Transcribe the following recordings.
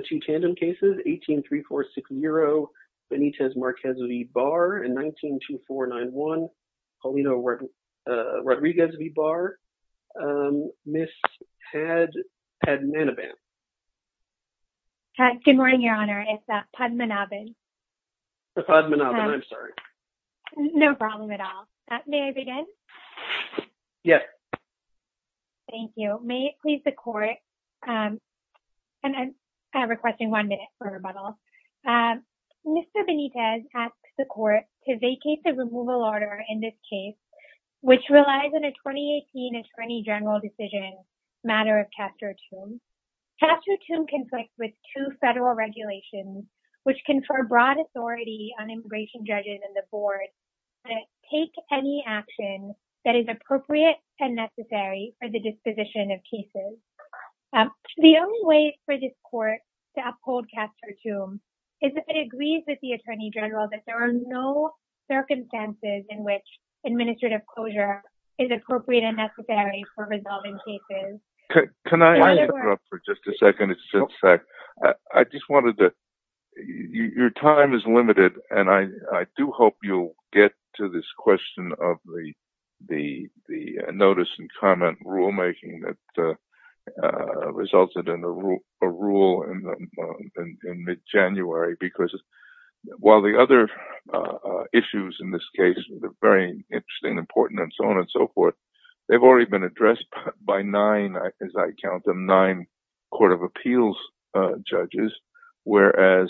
18346 Euro Benitez Marquez v. Barr, 192491 Paulino Rodriguez v. Barr, Ms. Padmanabhan. Good morning, Your Honor. It's Padmanabhan. Padmanabhan, I'm sorry. No problem at all. May I begin? Yes. Thank you. May it please the court, and I'm requesting one minute for rebuttal. Mr. Benitez asks the court to vacate the removal order in this case, which relies on a 2018 Attorney General decision, matter of Chapter 2. Chapter 2 conflicts with two federal regulations, which confer broad authority on immigration judges and the board to take any action that is appropriate and necessary for the disposition of cases. The only way for this court to uphold Chapter 2 is if it agrees with the Attorney General that there are no circumstances in which administrative closure is appropriate and necessary for resolving cases. Can I interrupt for just a second? I just wanted to – your time is limited, and I do hope you'll get to this question of the notice and comment rulemaking that resulted in a rule in mid-January, because while the other issues in this case are very interesting, important, and so on and so forth, they've already been addressed by nine, as I count them, nine Court of Appeals judges, whereas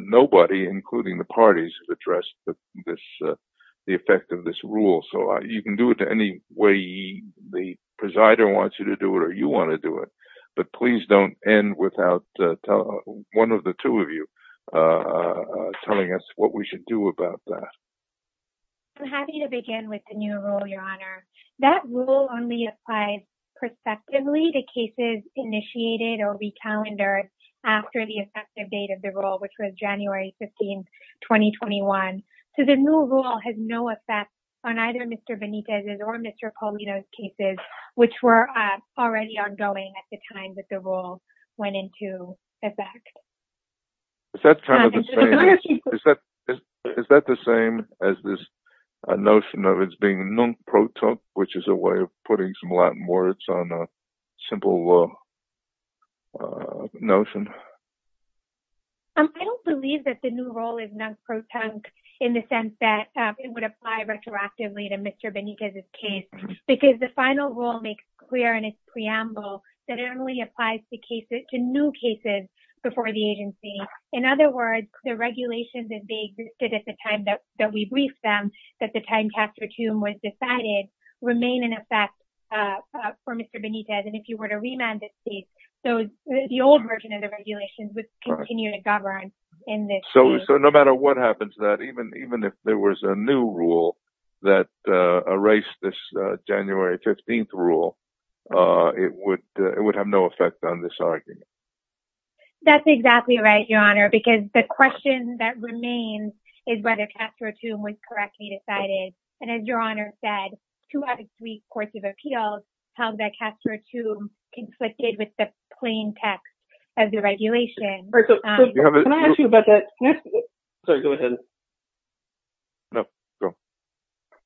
nobody, including the parties, addressed the effect of this rule. So you can do it any way the presider wants you to do it or you want to do it, but please don't end without one of the two of you telling us what we should do about that. I'm happy to begin with the new rule, Your Honor. That rule only applies prospectively to cases initiated or re-calendared after the effective date of the rule, which was January 15, 2021. So the new rule has no effect on either Mr. Benitez's or Mr. Paulino's cases, which were already ongoing at the time that the rule went into effect. Is that kind of the same as this notion of it being nunc protunque, which is a way of putting some Latin words on a simple notion? I don't believe that the new rule is nunc protunque in the sense that it would apply retroactively to Mr. Benitez's case, because the final rule makes clear in its preamble that it only applies to new cases before the agency. In other words, the regulations that existed at the time that we briefed them, at the time Castro-Chum was decided, remain in effect for Mr. Benitez. And if you were to remand this case, the old version of the regulations would continue to govern in this case. So no matter what happens to that, even if there was a new rule that erased this January 15th rule, it would have no effect on this argument. That's exactly right, Your Honor, because the question that remains is whether Castro-Chum was correctly decided. And as Your Honor said, two out of three courts of appeals held that Castro-Chum conflicted with the plain text of the regulation. All right, so can I ask you about that? Sorry, go ahead. No, go.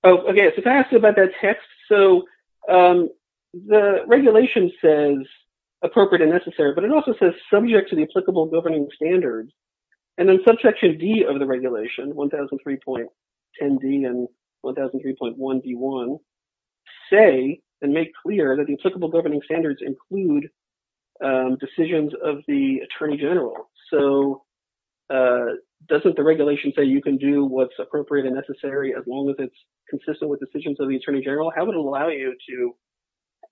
Okay, so if I ask you about that text, so the regulation says appropriate and necessary, but it also says subject to the applicable governing standards. And then subsection D of the regulation, 1003.10D and 1003.1D1, say and make clear that the applicable governing standards include decisions of the attorney general. So doesn't the regulation say you can do what's appropriate and necessary as long as it's consistent with decisions of the attorney general? How would it allow you to,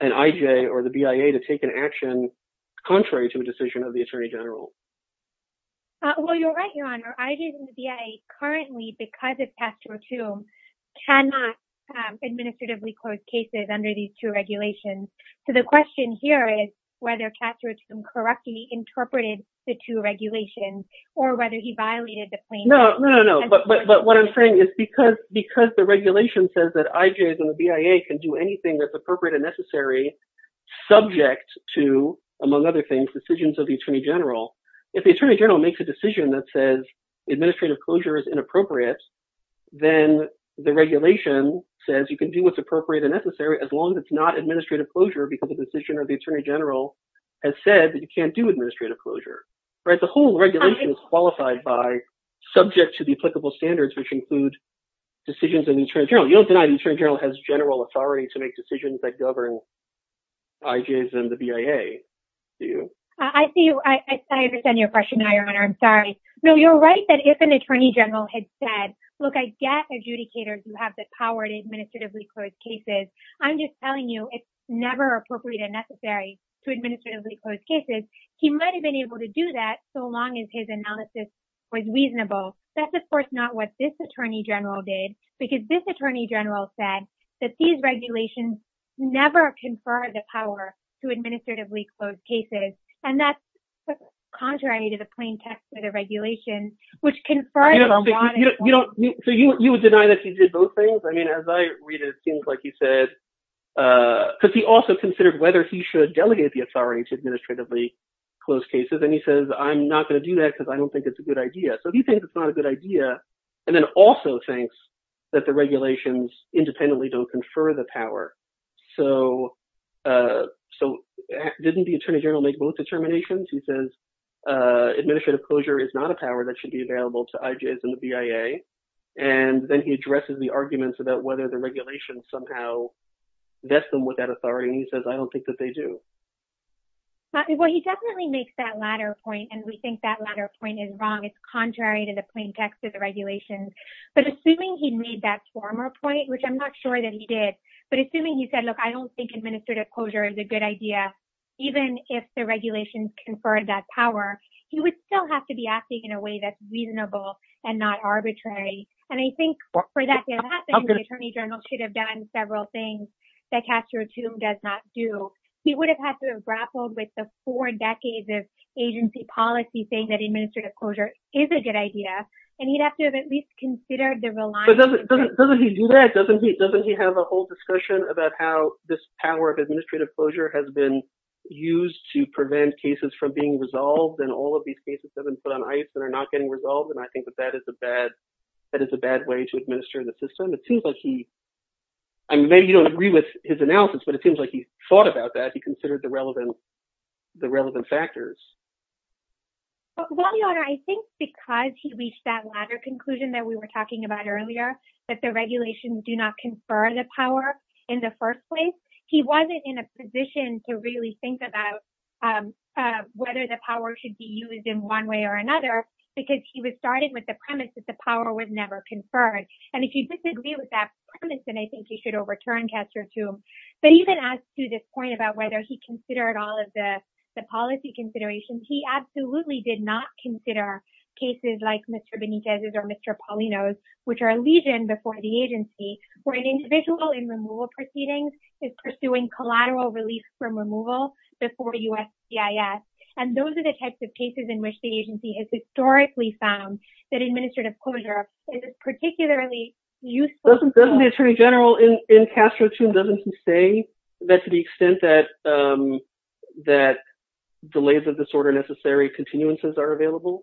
an IJ or the BIA, to take an action contrary to a decision of the attorney general? Well, you're right, Your Honor. IJs and the BIA currently, because of Castro-Chum, cannot administratively close cases under these two regulations. So the question here is whether Castro-Chum correctly interpreted the two regulations or whether he violated the plain text. No, no, no, but what I'm saying is because the regulation says that IJs and the BIA can do anything that's appropriate and necessary subject to, among other things, decisions of the attorney general, if the attorney general makes a decision that says administrative closure is inappropriate, then the regulation says you can do what's appropriate and necessary as long as it's not administrative closure because the decision of the attorney general has said that you can't do administrative closure. The whole regulation is qualified by subject to the applicable standards, which include decisions of the attorney general. You don't deny the attorney general has general authority to make decisions that govern IJs and the BIA, do you? I see you. I understand your question, Your Honor. I'm sorry. No, you're right that if an attorney general had said, look, I get adjudicators who have the power to administratively close cases. I'm just telling you it's never appropriate and necessary to administratively close cases. He might have been able to do that so long as his analysis was reasonable. That's, of course, not what this attorney general did, because this attorney general said that these regulations never confer the power to administratively close cases. And that's contrary to the plain text of the regulation, which confers on one. So you would deny that he did both things? I mean, as I read it, it seems like he said, because he also considered whether he should delegate the authority to administratively close cases. And he says, I'm not going to do that because I don't think it's a good idea. So he thinks it's not a good idea and then also thinks that the regulations independently don't confer the power. So so didn't the attorney general make both determinations? He says administrative closure is not a power that should be available to IJs and the BIA. And then he addresses the arguments about whether the regulations somehow vest them with that authority. And he says, I don't think that they do. Well, he definitely makes that latter point. And we think that latter point is wrong. It's contrary to the plain text of the regulations. But assuming he made that former point, which I'm not sure that he did. But assuming he said, look, I don't think administrative closure is a good idea, even if the regulations conferred that power. He would still have to be acting in a way that's reasonable and not arbitrary. And I think for that to happen, the attorney general should have done several things that Castro does not do. He would have had to have grappled with the four decades of agency policy saying that administrative closure is a good idea. And he'd have to have at least considered the reliance. But doesn't he do that? Doesn't he doesn't he have a whole discussion about how this power of administrative closure has been used to prevent cases from being resolved? And all of these cases have been put on ice and are not getting resolved. And I think that that is a bad that is a bad way to administer the system. It seems like he I mean, maybe you don't agree with his analysis, but it seems like he thought about that. He considered the relevant the relevant factors. Well, I think because he reached that latter conclusion that we were talking about earlier, that the regulations do not confer the power in the first place. He wasn't in a position to really think about whether the power should be used in one way or another, because he was started with the premise that the power was never conferred. And if you disagree with that premise, then I think you should overturn Castro, too. But even as to this point about whether he considered all of the policy considerations, he absolutely did not consider cases like Mr. Benitez's or Mr. Paulino's, which are a legion before the agency, where an individual in removal proceedings is pursuing collateral relief from removal before USCIS. And those are the types of cases in which the agency has historically found that administrative closure is particularly useful. Doesn't the attorney general in Castro, too, doesn't he say that to the extent that that delays of disorder necessary continuances are available?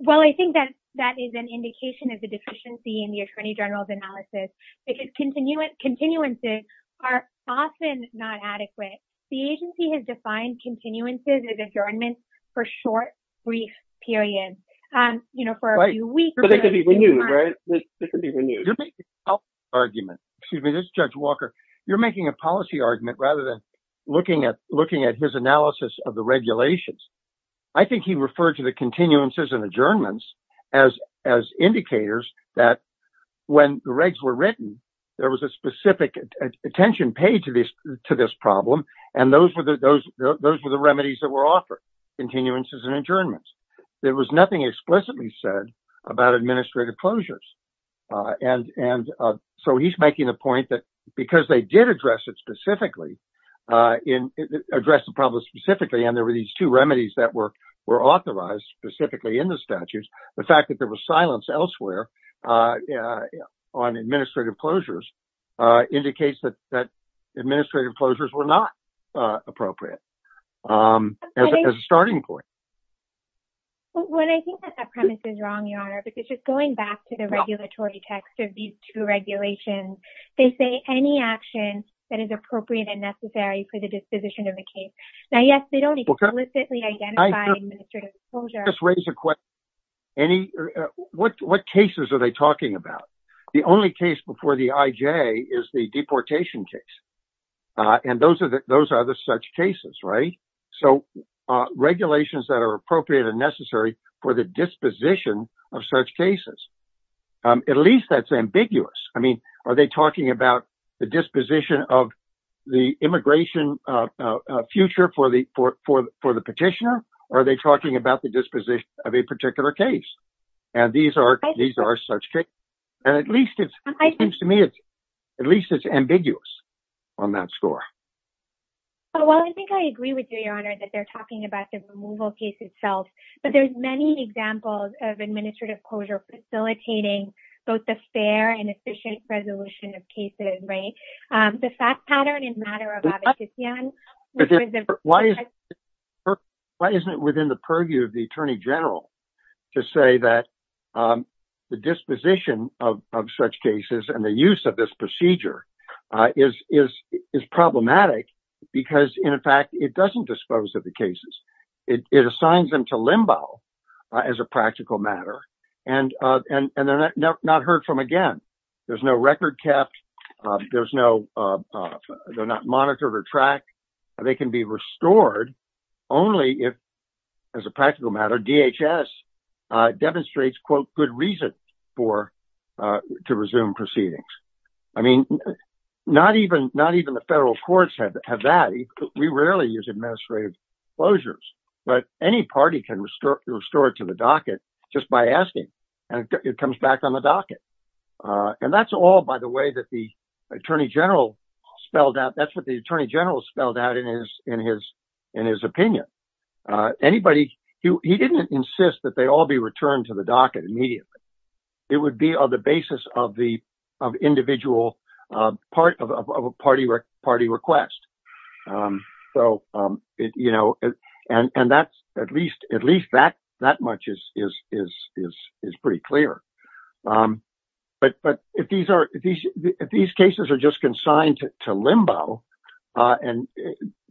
Well, I think that that is an indication of the deficiency in the attorney general's analysis. Because continuances are often not adequate. The agency has defined continuances as adjournments for short, brief periods, you know, for a few weeks. But they could be renewed, right? You're making a policy argument. Excuse me, this is Judge Walker. You're making a policy argument rather than looking at his analysis of the regulations. I think he referred to the continuances and adjournments as as indicators that when the regs were written, there was a specific attention paid to this to this problem. And those were the those those were the remedies that were offered continuances and adjournments. There was nothing explicitly said about administrative closures. And and so he's making the point that because they did address it specifically in address the problem specifically. And there were these two remedies that work were authorized specifically in the statutes. The fact that there was silence elsewhere on administrative closures indicates that that administrative closures were not appropriate. As a starting point. When I think that premise is wrong, your honor, because just going back to the regulatory text of these two regulations, they say any action that is appropriate and necessary for the disposition of the case. Now, yes, they don't explicitly identify administrative closure. Just raise a question. Any what what cases are they talking about? The only case before the IJ is the deportation case. And those are those are the such cases. Right. So regulations that are appropriate and necessary for the disposition of such cases, at least that's ambiguous. I mean, are they talking about the disposition of the immigration future for the for for for the petitioner? Are they talking about the disposition of a particular case? And these are these are such cases. And at least it seems to me it's at least it's ambiguous on that score. Well, I think I agree with you, your honor, that they're talking about the removal case itself. But there's many examples of administrative closure facilitating both the fair and efficient resolution of cases. Right. The fact pattern in matter of. But why is it why isn't it within the purview of the attorney general to say that the disposition of such cases and the use of this procedure is is is problematic? Because, in fact, it doesn't dispose of the cases. It assigns them to limbo as a practical matter. And and they're not heard from again. There's no record kept. There's no they're not monitored or tracked. They can be restored only if as a practical matter. DHS demonstrates, quote, good reason for to resume proceedings. I mean, not even not even the federal courts have that. We rarely use administrative closures, but any party can restore restore it to the docket just by asking. And it comes back on the docket. And that's all, by the way, that the attorney general spelled out. That's what the attorney general spelled out in his in his in his opinion. Anybody who he didn't insist that they all be returned to the docket immediately. It would be on the basis of the of individual part of a party or party request. So, you know, and that's at least at least that that much is is is is is pretty clear. But but if these are these if these cases are just consigned to limbo and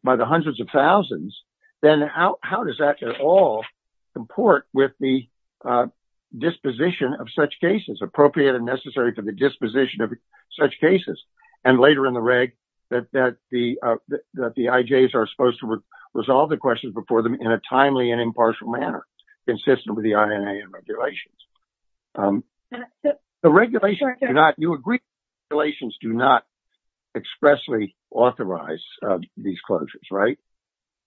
by the hundreds of thousands, then how does that at all comport with the disposition of such cases appropriate and necessary for the disposition of such cases? And later in the reg that that the that the IJs are supposed to resolve the questions before them in a timely and impartial manner. Consistent with the regulations, the regulations are not you agree. Relations do not expressly authorize these closures. Right.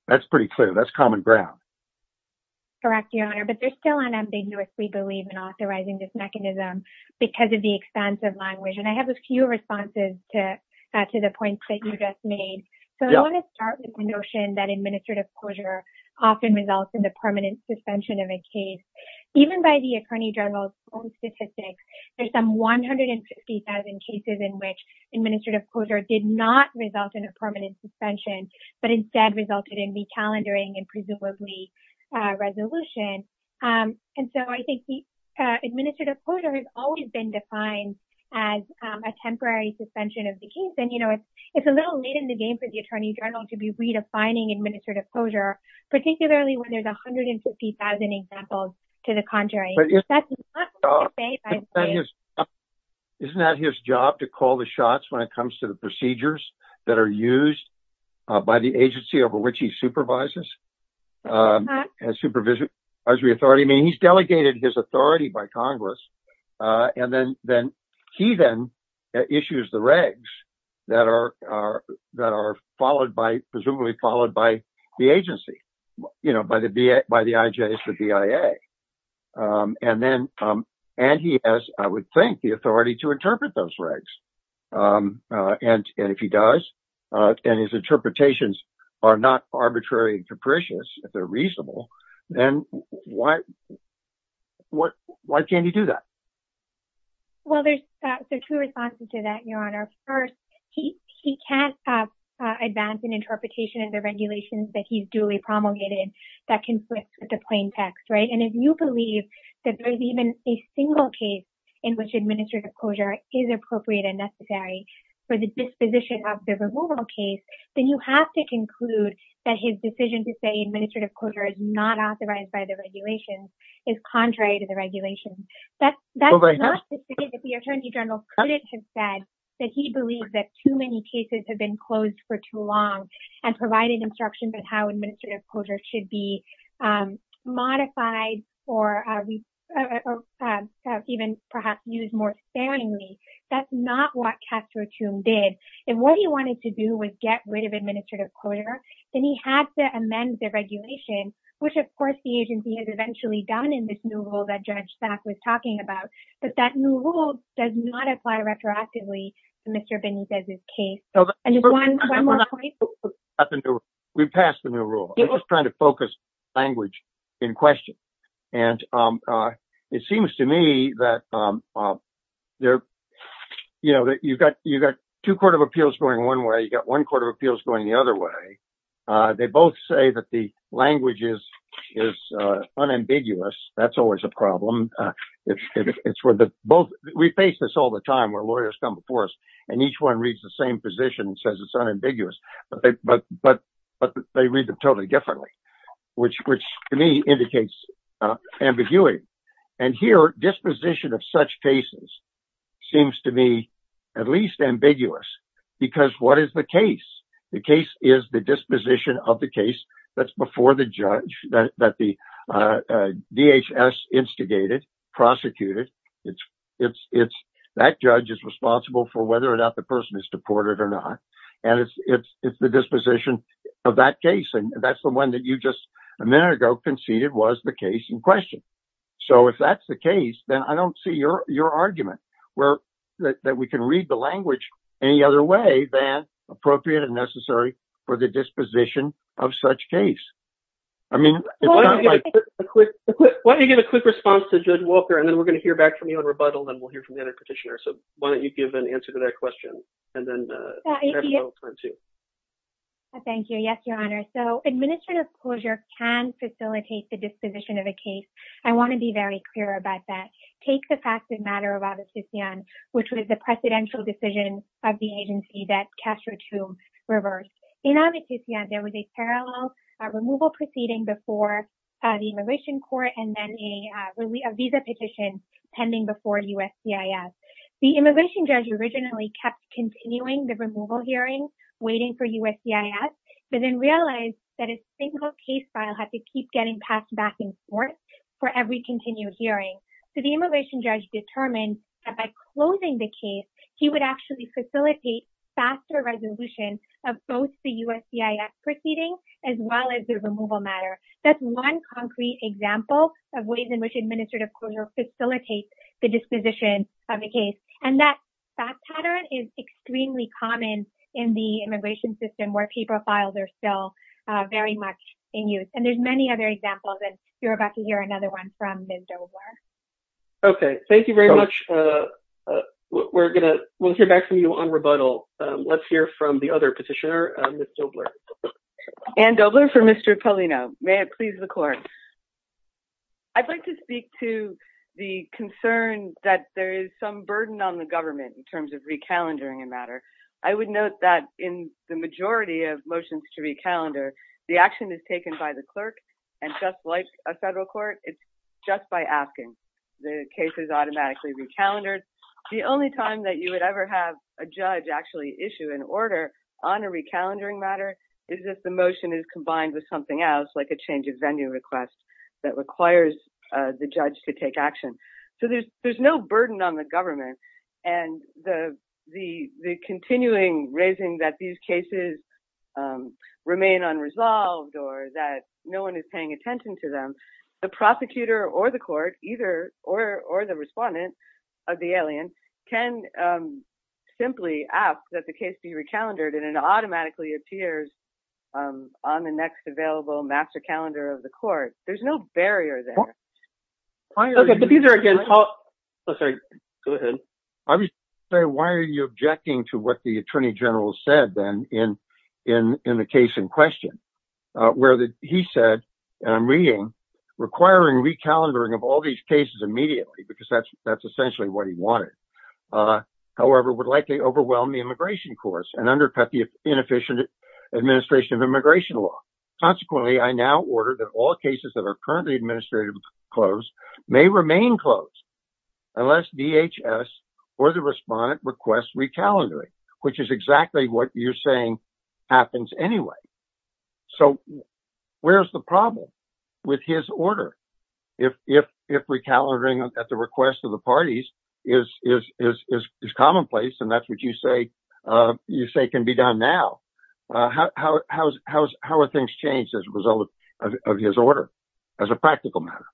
That's pretty clear. That's common ground. Correct. But there's still an ambiguous we believe in authorizing this mechanism because of the expense of language. And I have a few responses to the points that you just made. So I want to start with the notion that administrative closure often results in the permanent suspension of a case. Even by the attorney general's own statistics, there's some one hundred and fifty thousand cases in which administrative closure did not result in a permanent suspension, but instead resulted in the calendaring and presumably resolution. And so I think the administrative closure has always been defined as a temporary suspension of the case. And, you know, it's a little late in the game for the attorney general to be redefining administrative closure, particularly when there's one hundred and fifty thousand examples to the contrary. Isn't that his job to call the shots when it comes to the procedures that are used by the agency over which he supervises supervision? I mean, he's delegated his authority by Congress. And then then he then issues the regs that are that are followed by presumably followed by the agency, you know, by the by the IJ, the BIA. And then and he has, I would think, the authority to interpret those regs. And if he does and his interpretations are not arbitrary and capricious, if they're reasonable, then why? What? Why can't you do that? Well, there's two responses to that, Your Honor. First, he he can't advance an interpretation of the regulations that he's duly promulgated that conflict with the plain text. Right. And if you believe that there is even a single case in which administrative closure is appropriate and necessary for the disposition of the removal case, then you have to conclude that his decision to say administrative closure is not authorized by the regulations is contrary to the regulations. That's that's not the case. The attorney general couldn't have said that he believes that too many cases have been closed for too long and provided instructions on how administrative closure should be modified or even perhaps used more sparingly. That's not what Castro did. And what he wanted to do was get rid of administrative closure. Then he had to amend the regulation, which, of course, the agency has eventually done in this new rule that Judge Sack was talking about. But that new rule does not apply retroactively to Mr. Benitez's case. And one more point. We passed the new rule trying to focus language in question. And it seems to me that there you know that you've got you've got two court of appeals going one way. You've got one court of appeals going the other way. They both say that the language is is unambiguous. That's always a problem. It's for the both. We face this all the time where lawyers come before us and each one reads the same position and says it's unambiguous. But but but they read them totally differently, which which to me indicates ambiguity. And here disposition of such cases seems to me at least ambiguous because what is the case? The case is the disposition of the case that's before the judge that the DHS instigated, prosecuted. It's it's it's that judge is responsible for whether or not the person is deported or not. And it's it's it's the disposition of that case. And that's the one that you just a minute ago conceded was the case in question. So if that's the case, then I don't see your your argument where that we can read the language any other way than appropriate and necessary for the disposition of such case. I mean, why don't you get a quick response to Judge Walker and then we're going to hear back from you on rebuttal and we'll hear from the other petitioner. So why don't you give an answer to that question and then. Thank you. Yes, your honor. So administrative closure can facilitate the disposition of a case. I want to be very clear about that. Take the fact that matter about this, which was the presidential decision of the agency that Castro to reverse. You know, there was a parallel removal proceeding before the immigration court and then a visa petition pending before USCIS. The immigration judge originally kept continuing the removal hearing, waiting for USCIS, but then realized that a single case file had to keep getting passed back and forth for every continued hearing. So the immigration judge determined that by closing the case, he would actually facilitate faster resolution of both the USCIS proceeding as well as the removal matter. That's one concrete example of ways in which administrative closure facilitates the disposition of the case. And that fact pattern is extremely common in the immigration system where pay profiles are still very much in use. And there's many other examples. And you're about to hear another one from Ms. Dobler. OK, thank you very much. We're going to hear back from you on rebuttal. Let's hear from the other petitioner, Ms. Dobler. Ann Dobler for Mr. Polino. May it please the court. I'd like to speak to the concern that there is some burden on the government in terms of recalendering a matter. I would note that in the majority of motions to recalendar, the action is taken by the clerk and just like a federal court. It's just by asking. The case is automatically recalendered. The only time that you would ever have a judge actually issue an order on a recalendering matter is if the motion is combined with something else, like a change of venue request that requires the judge to take action. So there's there's no burden on the government. And the the the continuing raising that these cases remain unresolved or that no one is paying attention to them. The prosecutor or the court either or the respondent of the alien can simply ask that the case be recalendered and it automatically appears on the next available master calendar of the court. There's no barrier there. OK, but these are again. Oh, sorry. Go ahead. I was saying, why are you objecting to what the attorney general said then in in in the case in question where he said, I'm reading requiring recalendering of all these cases immediately because that's that's essentially what he wanted. However, would likely overwhelm the immigration course and undercut the inefficient administration of immigration law. Consequently, I now order that all cases that are currently administrative close may remain closed unless DHS or the respondent requests recalendering, which is exactly what you're saying happens anyway. So where's the problem with his order? If if if recalendering at the request of the parties is is is is commonplace and that's what you say you say can be done now. How how's how's how are things changed as a result of his order as a practical matter?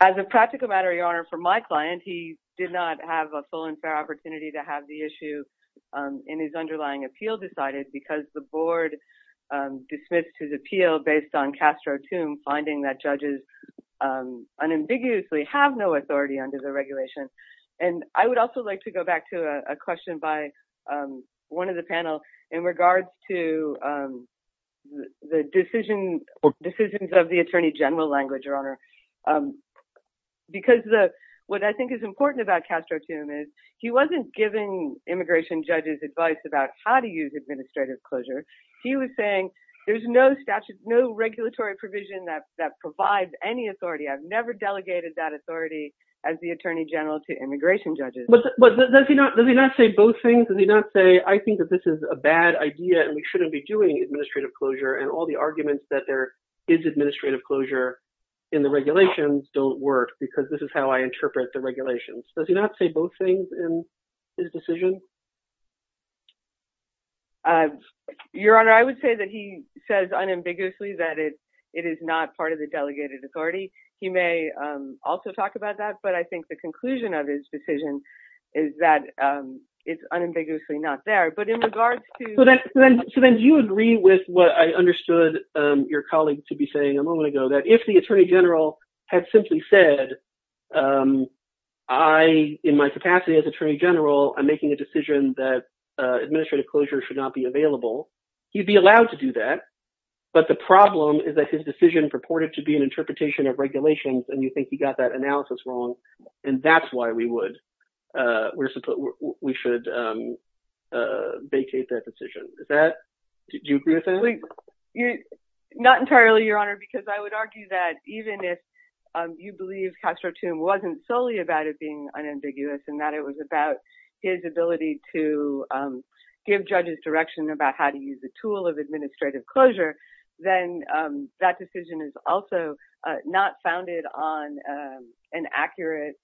As a practical matter, your honor, for my client, he did not have a full and fair opportunity to have the issue in his underlying appeal decided because the board dismissed his appeal based on Castro to finding that judges unambiguously have no authority under the regulation. And I would also like to go back to a question by one of the panel in regards to the decision decisions of the attorney general language, your honor, because what I think is important about Castro to him is he wasn't giving immigration judges advice about how to use administrative closure. He was saying there's no statute, no regulatory provision that that provides any authority. I've never delegated that authority as the attorney general to immigration judges. But does he not does he not say both things? Does he not say, I think that this is a bad idea and we shouldn't be doing administrative closure. And all the arguments that there is administrative closure in the regulations don't work because this is how I interpret the regulations. Does he not say both things in his decision? Your honor, I would say that he says unambiguously that it it is not part of the delegated authority. He may also talk about that. But I think the conclusion of his decision is that it's unambiguously not there. But in regards to that, then you agree with what I understood your colleague to be saying a moment ago, that if the attorney general had simply said, I, in my capacity as attorney general, I'm making a decision that administrative closure should not be available, you'd be allowed to do that. But the problem is that his decision purported to be an interpretation of regulations. And you think he got that analysis wrong. And that's why we would we should vacate that decision. Is that you agree with that? Not entirely, your honor, because I would argue that even if you believe Castro Toome wasn't solely about it being unambiguous and that it was about his ability to give judges direction about how to use the tool of administrative closure. Then that decision is also not founded on an accurate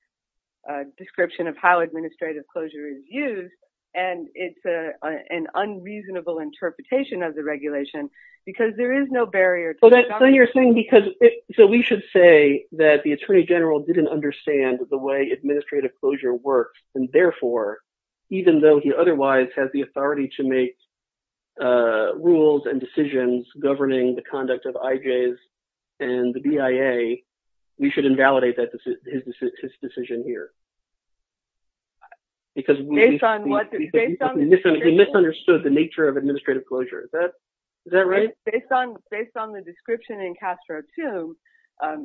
description of how administrative closure is used. And it's an unreasonable interpretation of the regulation because there is no barrier. So you're saying because so we should say that the attorney general didn't understand the way administrative closure works. And therefore, even though he otherwise has the authority to make rules and decisions governing the conduct of IJs and the BIA, we should invalidate his decision here. Because he misunderstood the nature of administrative closure. Based on the description in Castro Toome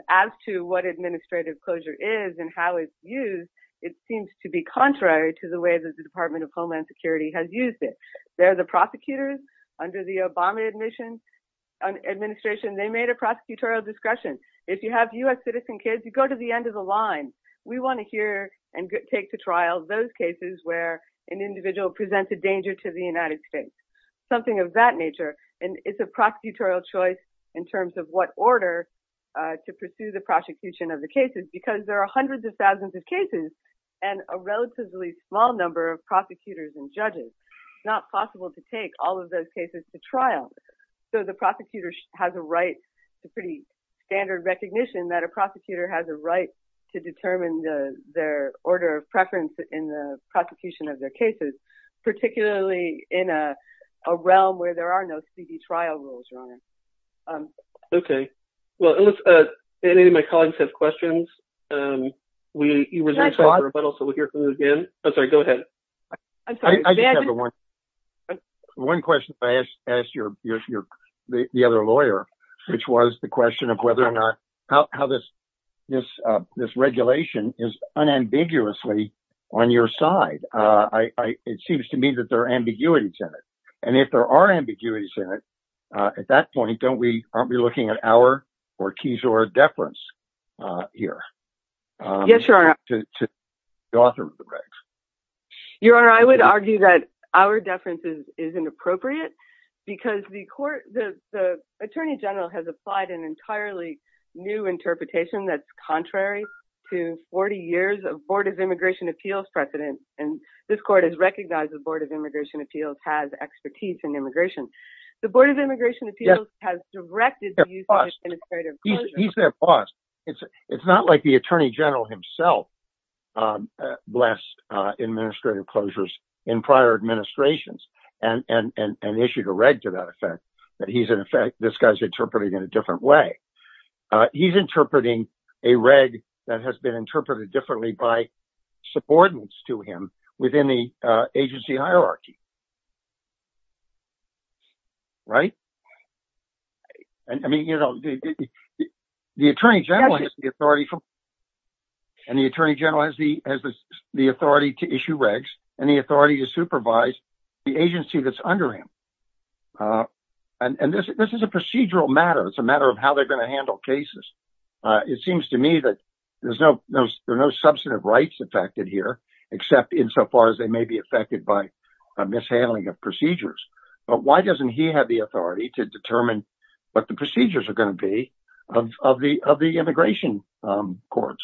as to what administrative closure is and how it's used, it seems to be contrary to the way that the Department of Homeland Security has used it. They're the prosecutors under the Obama administration. They made a prosecutorial discretion. If you have U.S. citizen kids, you go to the end of the line. We want to hear and take to trial those cases where an individual presents a danger to the United States. Something of that nature. And it's a prosecutorial choice in terms of what order to pursue the prosecution of the cases. Because there are hundreds of thousands of cases and a relatively small number of prosecutors and judges. It's not possible to take all of those cases to trial. So the prosecutor has a right to pretty standard recognition that a prosecutor has a right to determine their order of preference in the prosecution of their cases. Particularly in a realm where there are no trial rules. OK, well, if any of my colleagues have questions, we will hear from you again. I'm sorry. Go ahead. I just have one. One question. Ask your the other lawyer, which was the question of whether or not how this this this regulation is unambiguously on your side. I it seems to me that there are ambiguities in it. And if there are ambiguities in it, at that point, don't we aren't we looking at our keys or a deference here? Yes, your honor. Your honor, I would argue that our deference is inappropriate because the court, the attorney general has applied an entirely new interpretation that's contrary to 40 years of Board of Immigration Appeals precedent. And this court has recognized the Board of Immigration Appeals has expertise in immigration. The Board of Immigration Appeals has directed the use of administrative clauses. It's not like the attorney general himself blessed administrative closures in prior administrations and issued a reg to that effect that he's in effect. This guy's interpreted in a different way. He's interpreting a reg that has been interpreted differently by subordinates to him within the agency hierarchy. Right. I mean, you know, the attorney general has the authority from. And the attorney general has the has the authority to issue regs and the authority to supervise the agency that's under him. And this is a procedural matter. It's a matter of how they're going to handle cases. It seems to me that there's no substantive rights affected here, except insofar as they may be affected by a mishandling of procedures. But why doesn't he have the authority to determine what the procedures are going to be of the of the immigration courts?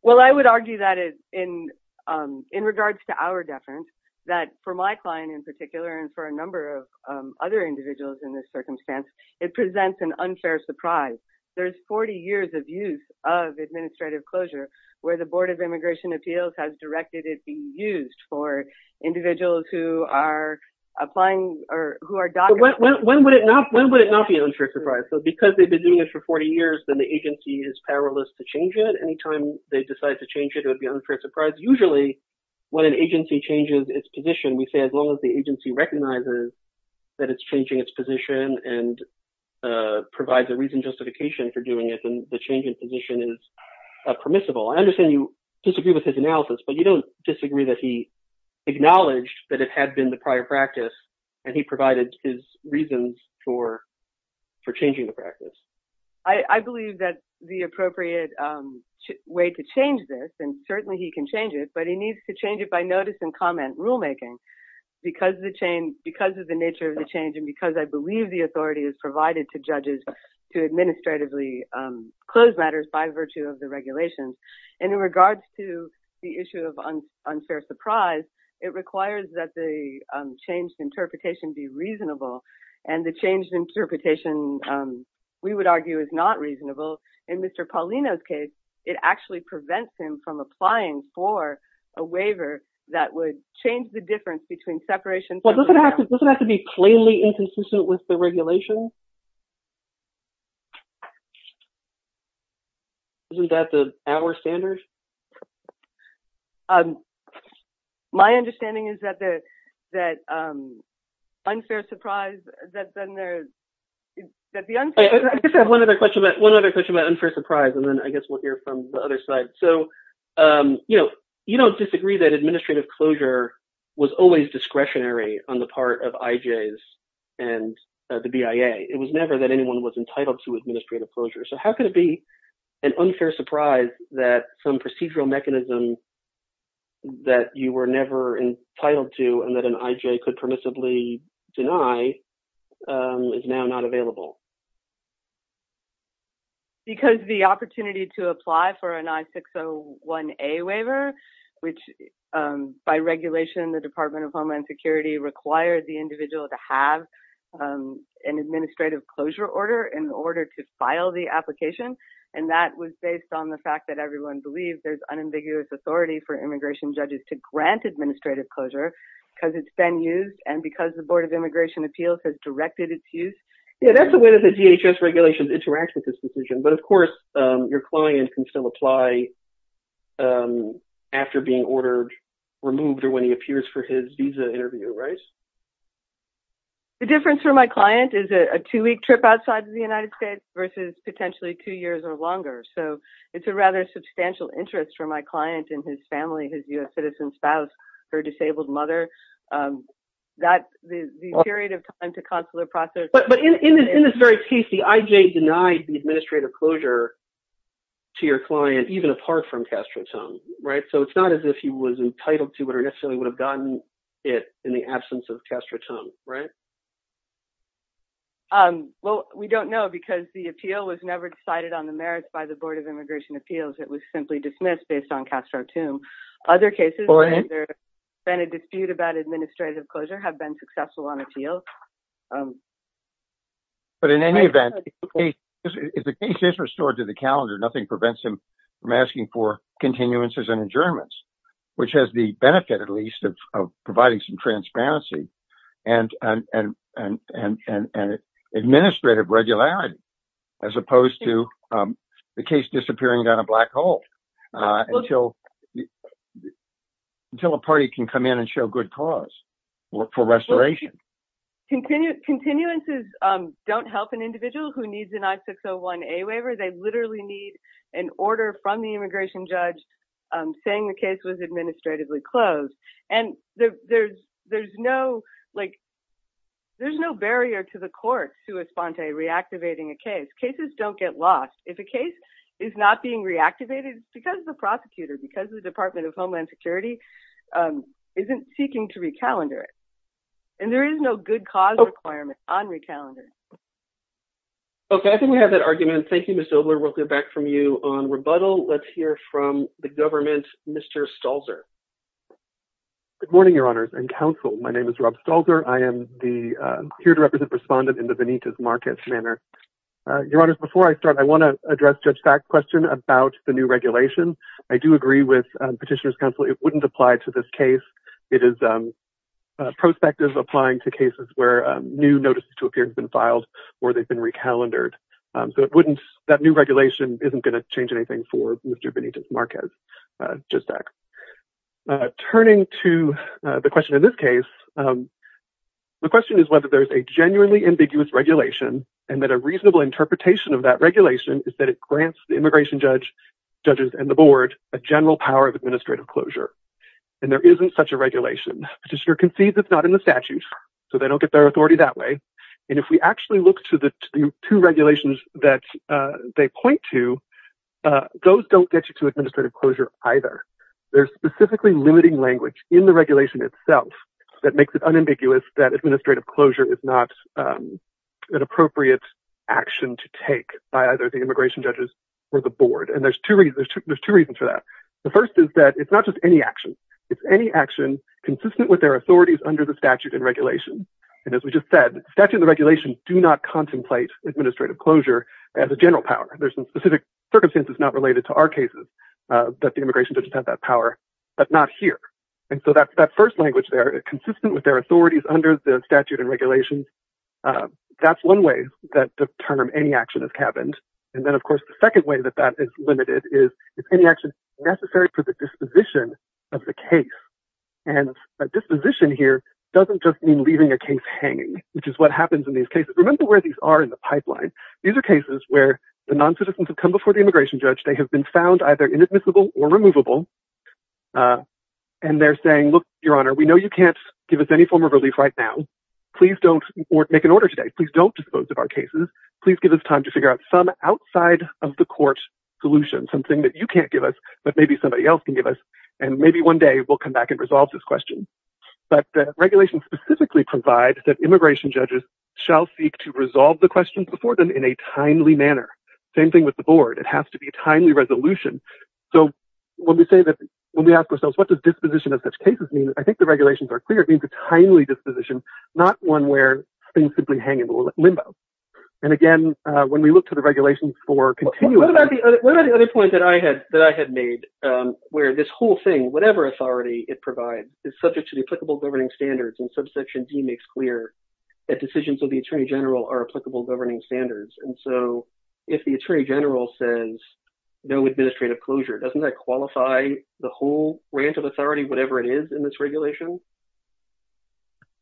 Well, I would argue that in in regards to our deference, that for my client in particular and for a number of other individuals in this circumstance, it presents an unfair surprise. There's 40 years of use of administrative closure where the Board of Immigration Appeals has directed it be used for individuals who are applying or who are. When would it not? When would it not be an unfair surprise? So because they've been doing it for 40 years, then the agency is powerless to change it. Anytime they decide to change it would be an unfair surprise. Usually when an agency changes its position, we say as long as the agency recognizes that it's changing its position and provides a reason justification for doing it. I understand you disagree with his analysis, but you don't disagree that he acknowledged that it had been the prior practice and he provided his reasons for changing the practice. I believe that the appropriate way to change this, and certainly he can change it, but he needs to change it by notice and comment rulemaking. Because of the nature of the change and because I believe the authority is provided to judges to administratively close matters by virtue of the regulations. And in regards to the issue of unfair surprise, it requires that the changed interpretation be reasonable and the changed interpretation we would argue is not reasonable. In Mr. Paulino's case, it actually prevents him from applying for a waiver that would change the difference between separation. Doesn't it have to be plainly inconsistent with the regulations? Isn't that our standard? My understanding is that unfair surprise, that then there's – I guess I have one other question about unfair surprise, and then I guess we'll hear from the other side. So, you know, you don't disagree that administrative closure was always discretionary on the part of IJs and the BIA. It was never that anyone was entitled to administrative closure. So how could it be an unfair surprise that some procedural mechanism that you were never entitled to and that an IJ could permissibly deny is now not available? Because the opportunity to apply for an I-601A waiver, which by regulation, the Department of Homeland Security required the individual to have an administrative closure order in order to file the application. And that was based on the fact that everyone believes there's unambiguous authority for immigration judges to grant administrative closure because it's been used and because the Board of Immigration Appeals has directed its use. Yeah, that's the way that the DHS regulations interact with this decision. But of course, your client can still apply after being ordered, removed, or when he appears for his visa interview, right? The difference for my client is a two-week trip outside of the United States versus potentially two years or longer. So it's a rather substantial interest for my client and his family, his U.S. citizen spouse, her disabled mother. The period of time to consular process- But in this very case, the IJ denied the administrative closure to your client even apart from Castro-Tum, right? So it's not as if he was entitled to it or necessarily would have gotten it in the absence of Castro-Tum, right? Well, we don't know because the appeal was never decided on the merits by the Board of Immigration Appeals. It was simply dismissed based on Castro-Tum. Other cases where there's been a dispute about administrative closure have been successful on appeals. But in any event, if the case is restored to the calendar, nothing prevents him from asking for continuances and adjournments, which has the benefit, at least, of providing some transparency and administrative regularity as opposed to the case disappearing down a black hole. Until a party can come in and show good cause for restoration. Continuances don't help an individual who needs an I-601A waiver. They literally need an order from the immigration judge saying the case was administratively closed. And there's no barrier to the court, sua sponte, reactivating a case. Cases don't get lost. If a case is not being reactivated, it's because the prosecutor, because the Department of Homeland Security isn't seeking to recalendar it. And there is no good cause requirement on recalendar. Okay, I think we have that argument. Thank you, Ms. Dobler. We'll get back from you on rebuttal. Let's hear from the government, Mr. Stalzer. Good morning, Your Honors and Counsel. My name is Rob Stalzer. I am here to represent the respondent in the Benitez-Marquez manner. Your Honors, before I start, I want to address Judge Stack's question about the new regulation. I do agree with Petitioner's Counsel. It wouldn't apply to this case. It is prospective applying to cases where new notices to appear have been filed or they've been recalendared. So that new regulation isn't going to change anything for Mr. Benitez-Marquez, Judge Stack. Turning to the question in this case, the question is whether there's a genuinely ambiguous regulation and that a reasonable interpretation of that regulation is that it grants the immigration judge, judges, and the board a general power of administrative closure. And there isn't such a regulation. Petitioner concedes it's not in the statute, so they don't get their authority that way. And if we actually look to the two regulations that they point to, those don't get you to administrative closure either. There's specifically limiting language in the regulation itself that makes it unambiguous that administrative closure is not an appropriate action to take by either the immigration judges or the board. And there's two reasons for that. The first is that it's not just any action. It's any action consistent with their authorities under the statute and regulation. And as we just said, the statute and the regulation do not contemplate administrative closure as a general power. There's some specific circumstances not related to our cases that the immigration judges have that power, but not here. And so that first language there, consistent with their authorities under the statute and regulations, that's one way that the term any action is cabined. And then, of course, the second way that that is limited is it's any action necessary for the disposition of the case. And disposition here doesn't just mean leaving a case hanging, which is what happens in these cases. Remember where these are in the pipeline. These are cases where the noncitizens have come before the immigration judge. They have been found either inadmissible or removable. And they're saying, look, Your Honor, we know you can't give us any form of relief right now. Please don't make an order today. Please don't dispose of our cases. Please give us time to figure out some outside of the court solution, something that you can't give us, but maybe somebody else can give us. And maybe one day we'll come back and resolve this question. But the regulations specifically provide that immigration judges shall seek to resolve the questions before them in a timely manner. Same thing with the board. It has to be a timely resolution. So when we say that, when we ask ourselves, what does disposition of such cases mean? I think the regulations are clear. It means a timely disposition, not one where things simply hang in limbo. And again, when we look to the regulations for continuing. What about the other point that I had that I had made where this whole thing, whatever authority it provides, is subject to the applicable governing standards. And subsection D makes clear that decisions of the attorney general are applicable governing standards. And so if the attorney general says no administrative closure, doesn't that qualify the whole branch of authority, whatever it is in this regulation?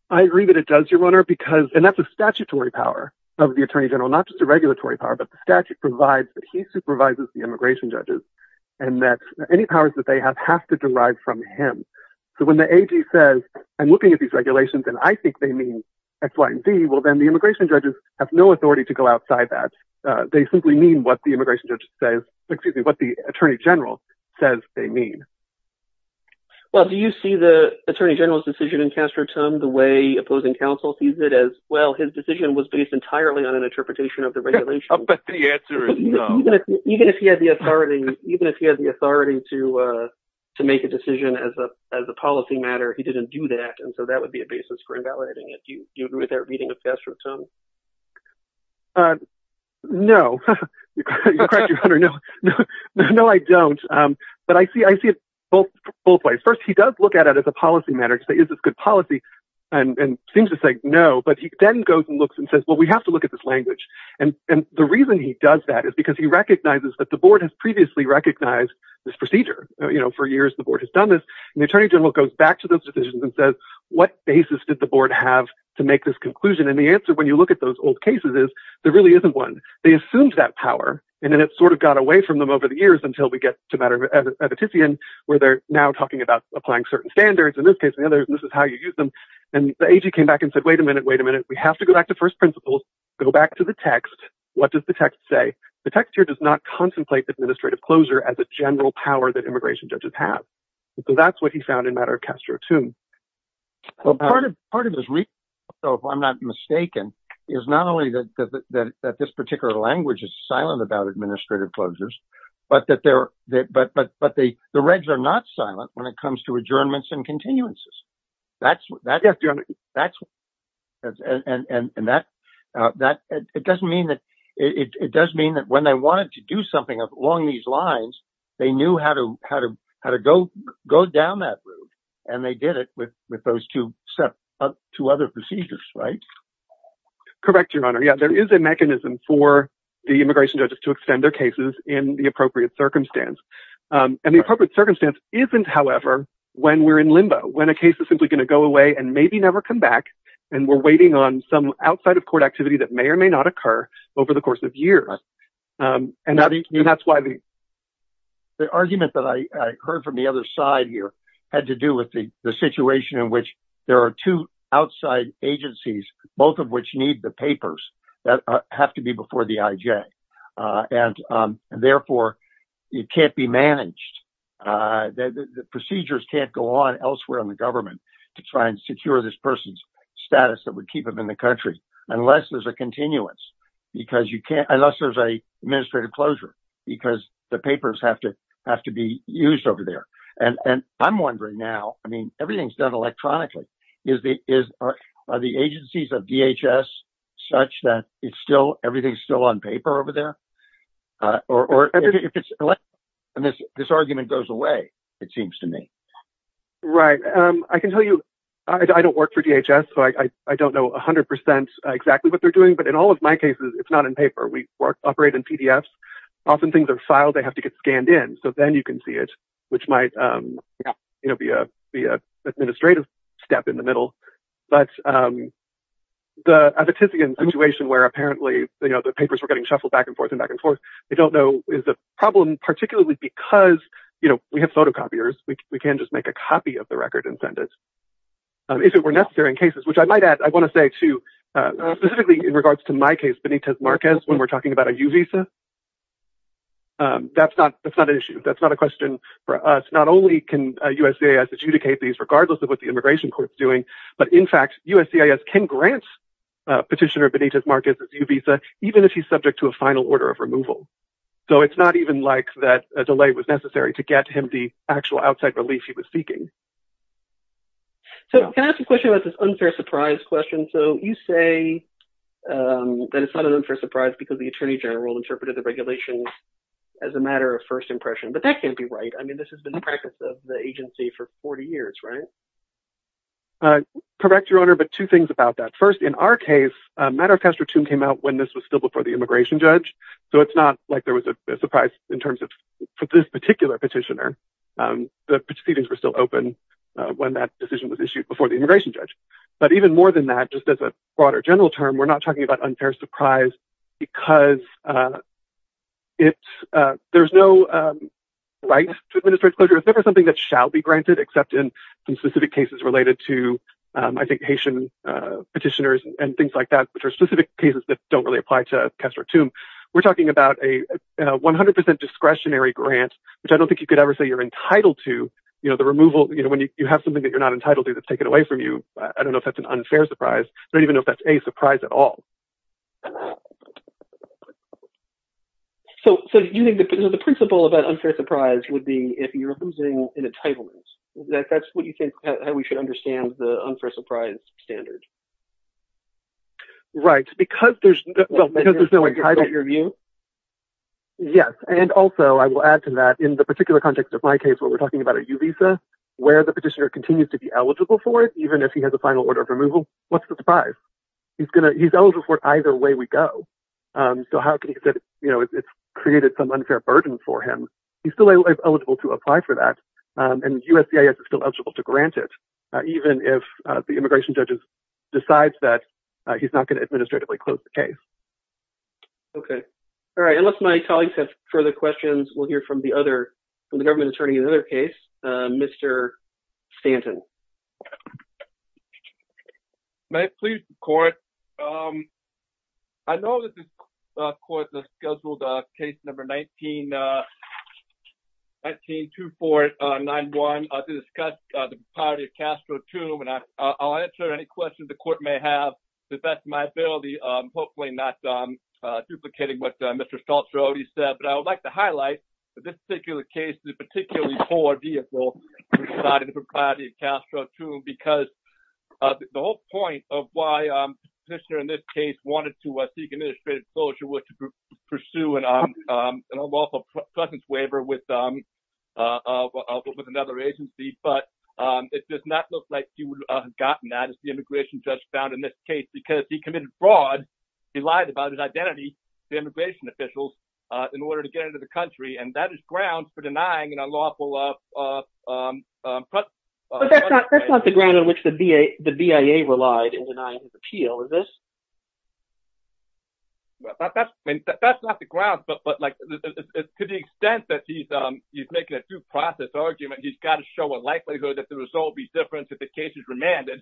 I agree that it does, your honor, because that's a statutory power of the attorney general, not just a regulatory power, but the statute provides that he supervises the immigration judges and that any powers that they have have to derive from him. So when the AG says I'm looking at these regulations and I think they mean X, Y and Z, well, then the immigration judges have no authority to go outside that. They simply mean what the immigration judge says, excuse me, what the attorney general says they mean. Well, do you see the attorney general's decision in Castro-Tum the way opposing counsel sees it as? Well, his decision was based entirely on an interpretation of the regulation. But the answer is no. Even if he had the authority, even if he had the authority to make a decision as a policy matter, he didn't do that. And so that would be a basis for invalidating it. Do you agree with that reading of Castro-Tum? No. No, I don't. But I see I see it both both ways. First, he does look at it as a policy matter. It's a good policy and seems to say no. But he then goes and looks and says, well, we have to look at this language. And the reason he does that is because he recognizes that the board has previously recognized this procedure. You know, for years, the board has done this. The attorney general goes back to those decisions and says, what basis did the board have to make this conclusion? And the answer, when you look at those old cases, is there really isn't one. They assumed that power and then it sort of got away from them over the years until we get to a matter of a petition where they're now talking about applying certain standards. In this case, this is how you use them. And the agency came back and said, wait a minute, wait a minute. We have to go back to first principles, go back to the text. What does the text say? The text here does not contemplate administrative closure as a general power that immigration judges have. So that's what he found in matter of Castro, too. Well, part of part of this. So if I'm not mistaken, is not only that, that this particular language is silent about administrative closures, but that there are. But but but the the regs are not silent when it comes to adjournments and continuances. That's that's that's. And that that it doesn't mean that it does mean that when they wanted to do something along these lines, they knew how to how to how to go go down that road. And they did it with with those two steps to other procedures. Right. Correct. Your Honor. Yeah, there is a mechanism for the immigration judges to extend their cases in the appropriate circumstance. And the appropriate circumstance isn't, however, when we're in limbo, when a case is simply going to go away and maybe never come back. And we're waiting on some outside of court activity that may or may not occur over the course of years. And that's why the. The argument that I heard from the other side here had to do with the situation in which there are two outside agencies, both of which need the papers that have to be before the IJ and therefore it can't be managed. The procedures can't go on elsewhere in the government to try and secure this person's status that would keep him in the country unless there's a continuance, because you can't unless there's a administrative closure because the papers have to have to be used over there. And I'm wondering now, I mean, everything's done electronically. Is the agencies of DHS such that it's still everything's still on paper over there? Or if it's this argument goes away, it seems to me. Right. I can tell you I don't work for DHS, so I don't know 100 percent exactly what they're doing. But in all of my cases, it's not in paper. We operate in PDFs. Often things are filed. They have to get scanned in. So then you can see it, which might be an administrative step in the middle. But the situation where apparently the papers were getting shuffled back and forth and back and forth, they don't know is the problem, particularly because, you know, we have photocopiers. We can just make a copy of the record and send it. If it were necessary in cases which I might add, I want to say to specifically in regards to my case, Benitez Marquez, when we're talking about a U visa. That's not that's not an issue. That's not a question for us. Not only can U.S.C.A.S. adjudicate these regardless of what the immigration court is doing, but in fact, U.S.C.A.S. can grant petitioner Benitez Marquez a U visa even if he's subject to a final order of removal. So it's not even like that delay was necessary to get him the actual outside relief he was seeking. So can I ask a question about this unfair surprise question? So you say that it's not an unfair surprise because the attorney general interpreted the regulations as a matter of first impression. But that can't be right. I mean, this has been the practice of the agency for 40 years, right? Correct, Your Honor, but two things about that. First, in our case, a matter of past return came out when this was still before the immigration judge. So it's not like there was a surprise in terms of this particular petitioner. The proceedings were still open when that decision was issued before the immigration judge. But even more than that, just as a broader general term, we're not talking about unfair surprise because there's no right to administrate closure. It's never something that shall be granted, except in some specific cases related to, I think, Haitian petitioners and things like that, which are specific cases that don't really apply to Kestrel Toome. We're talking about a 100 percent discretionary grant, which I don't think you could ever say you're entitled to. You know, the removal, you know, when you have something that you're not entitled to, that's taken away from you. I don't know if that's an unfair surprise. I don't even know if that's a surprise at all. So do you think the principle about unfair surprise would be if you're losing an entitlement, that that's what you think we should understand the unfair surprise standard? Right, because there's no entitlement. Yes, and also I will add to that in the particular context of my case, what we're talking about at Uvisa, where the petitioner continues to be eligible for it, even if he has a final order of removal. What's the surprise? He's going to he's eligible for it either way we go. So how can you say, you know, it's created some unfair burden for him. He's still eligible to apply for that. And USCIS is still eligible to grant it, even if the immigration judges decides that he's not going to administratively close the case. OK. All right. Unless my colleagues have further questions, we'll hear from the other government attorney. Another case, Mr. Stanton. May it please the court. I know that the court scheduled case number 19, 19, 2, 4, 9, 1, to discuss the property of Castro, too, and I'll answer any questions the court may have to the best of my ability. Hopefully not duplicating what Mr. Saltzrode said, but I would like to highlight that this particular case, this is a particularly poor vehicle for the property of Castro, too, because the whole point of why the petitioner in this case wanted to seek an administrative closure was to pursue an unlawful presence waiver with another agency. But it does not look like he would have gotten that, as the immigration judge found in this case, because he committed fraud. He lied about his identity to immigration officials in order to get into the country. And that is ground for denying an unlawful presence waiver. But that's not the ground on which the BIA relied in denying his appeal, is this? That's not the ground, but to the extent that he's making a due process argument, he's got to show a likelihood that the result will be different if the case is remanded.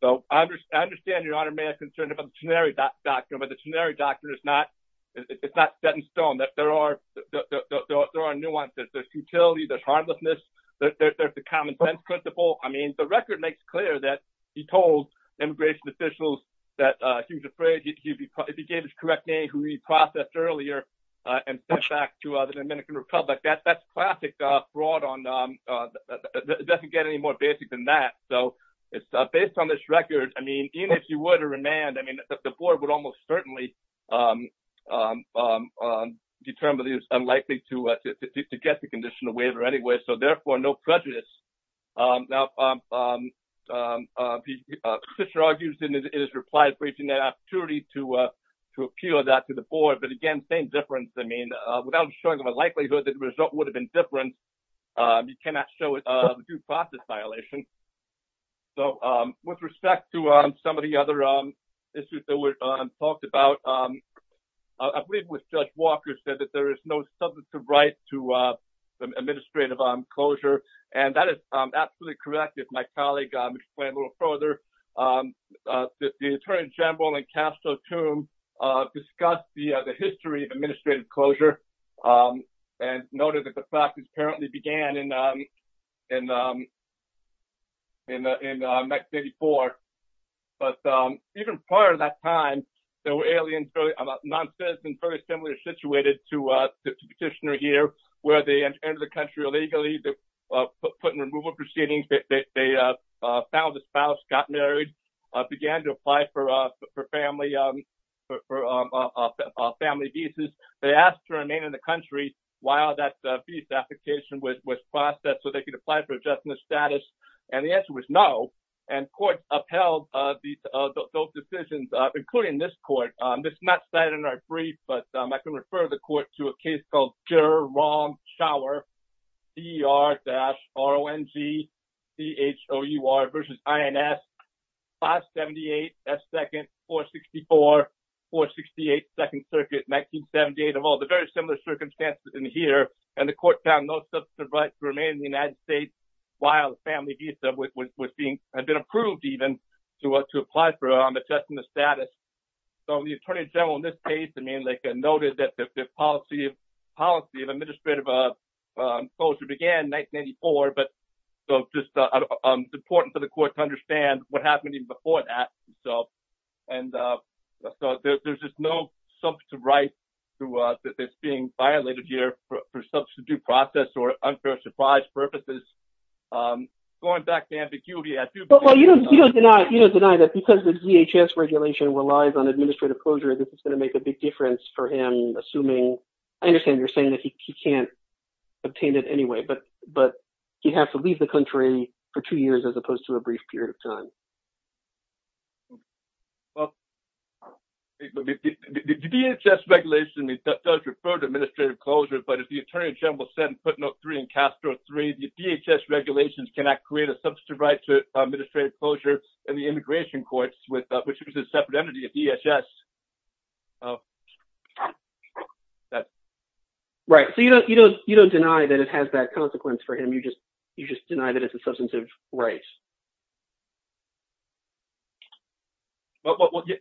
So I understand, Your Honor, may I concern you about the Teneri doctrine, but the Teneri doctrine is not set in stone, that there are nuances, there's futility, there's harmlessness, there's the common sense principle. I mean, the record makes clear that he told immigration officials that he was afraid if he gave his correct name, he would be reprocessed earlier and sent back to the Dominican Republic. That's classic fraud. It doesn't get any more basic than that. So it's based on this record. I mean, even if you were to remand, I mean, the board would almost certainly determine that he was unlikely to get the conditional waiver anyway. So therefore, no prejudice. Now, Fisher argues in his reply, breaching that opportunity to appeal that to the board. But again, same difference. I mean, without showing them a likelihood that the result would have been different. You cannot show a due process violation. So with respect to some of the other issues that were talked about, I believe it was Judge Walker said that there is no substantive right to administrative closure. And that is absolutely correct. If my colleague explain a little further, the attorney general and Castro to discuss the history of administrative closure and noted that the practice apparently began in. And. And in 1984, but even prior to that time, there were aliens about nonsense and very similar situated to the petitioner here where they enter the country illegally. They put in removal proceedings. They found a spouse, got married, began to apply for family, for family visas. They asked to remain in the country while that visa application was processed so they could apply for just the status. And the answer was no. And court upheld those decisions, including this court. This is not cited in our brief, but I can refer the court to a case called Gerrong Shower, D.R. dash R.O.N.G. C.H.O.U.R. versus I.N.S. 578 S. 2nd 464 468 2nd Circuit 1978 of all the very similar circumstances in here. And the court found no substantive right to remain in the United States while the family visa was being been approved, even to what to apply for. I'm adjusting the status. So the attorney general in this case, I mean, like I noted that the policy of policy of administrative closure began 1984. But so just important for the court to understand what happened even before that. So and so there's just no substantive right to this being violated here for substitute process or unfair surprise purposes. Going back to ambiguity. Well, you don't you don't deny you don't deny that because the DHS regulation relies on administrative closure, this is going to make a big difference for him. Assuming I understand you're saying that he can't obtain it anyway. But but you have to leave the country for two years as opposed to a brief period of time. Well, the DHS regulation does refer to administrative closure. But as the attorney general said in footnote three in Castro three, the DHS regulations cannot create a substantive right to administrative closure. And the immigration courts with which is a separate entity of DHS. Right. So, you know, you don't you don't deny that it has that consequence for him. You just you just deny that it's a substantive right. Well, to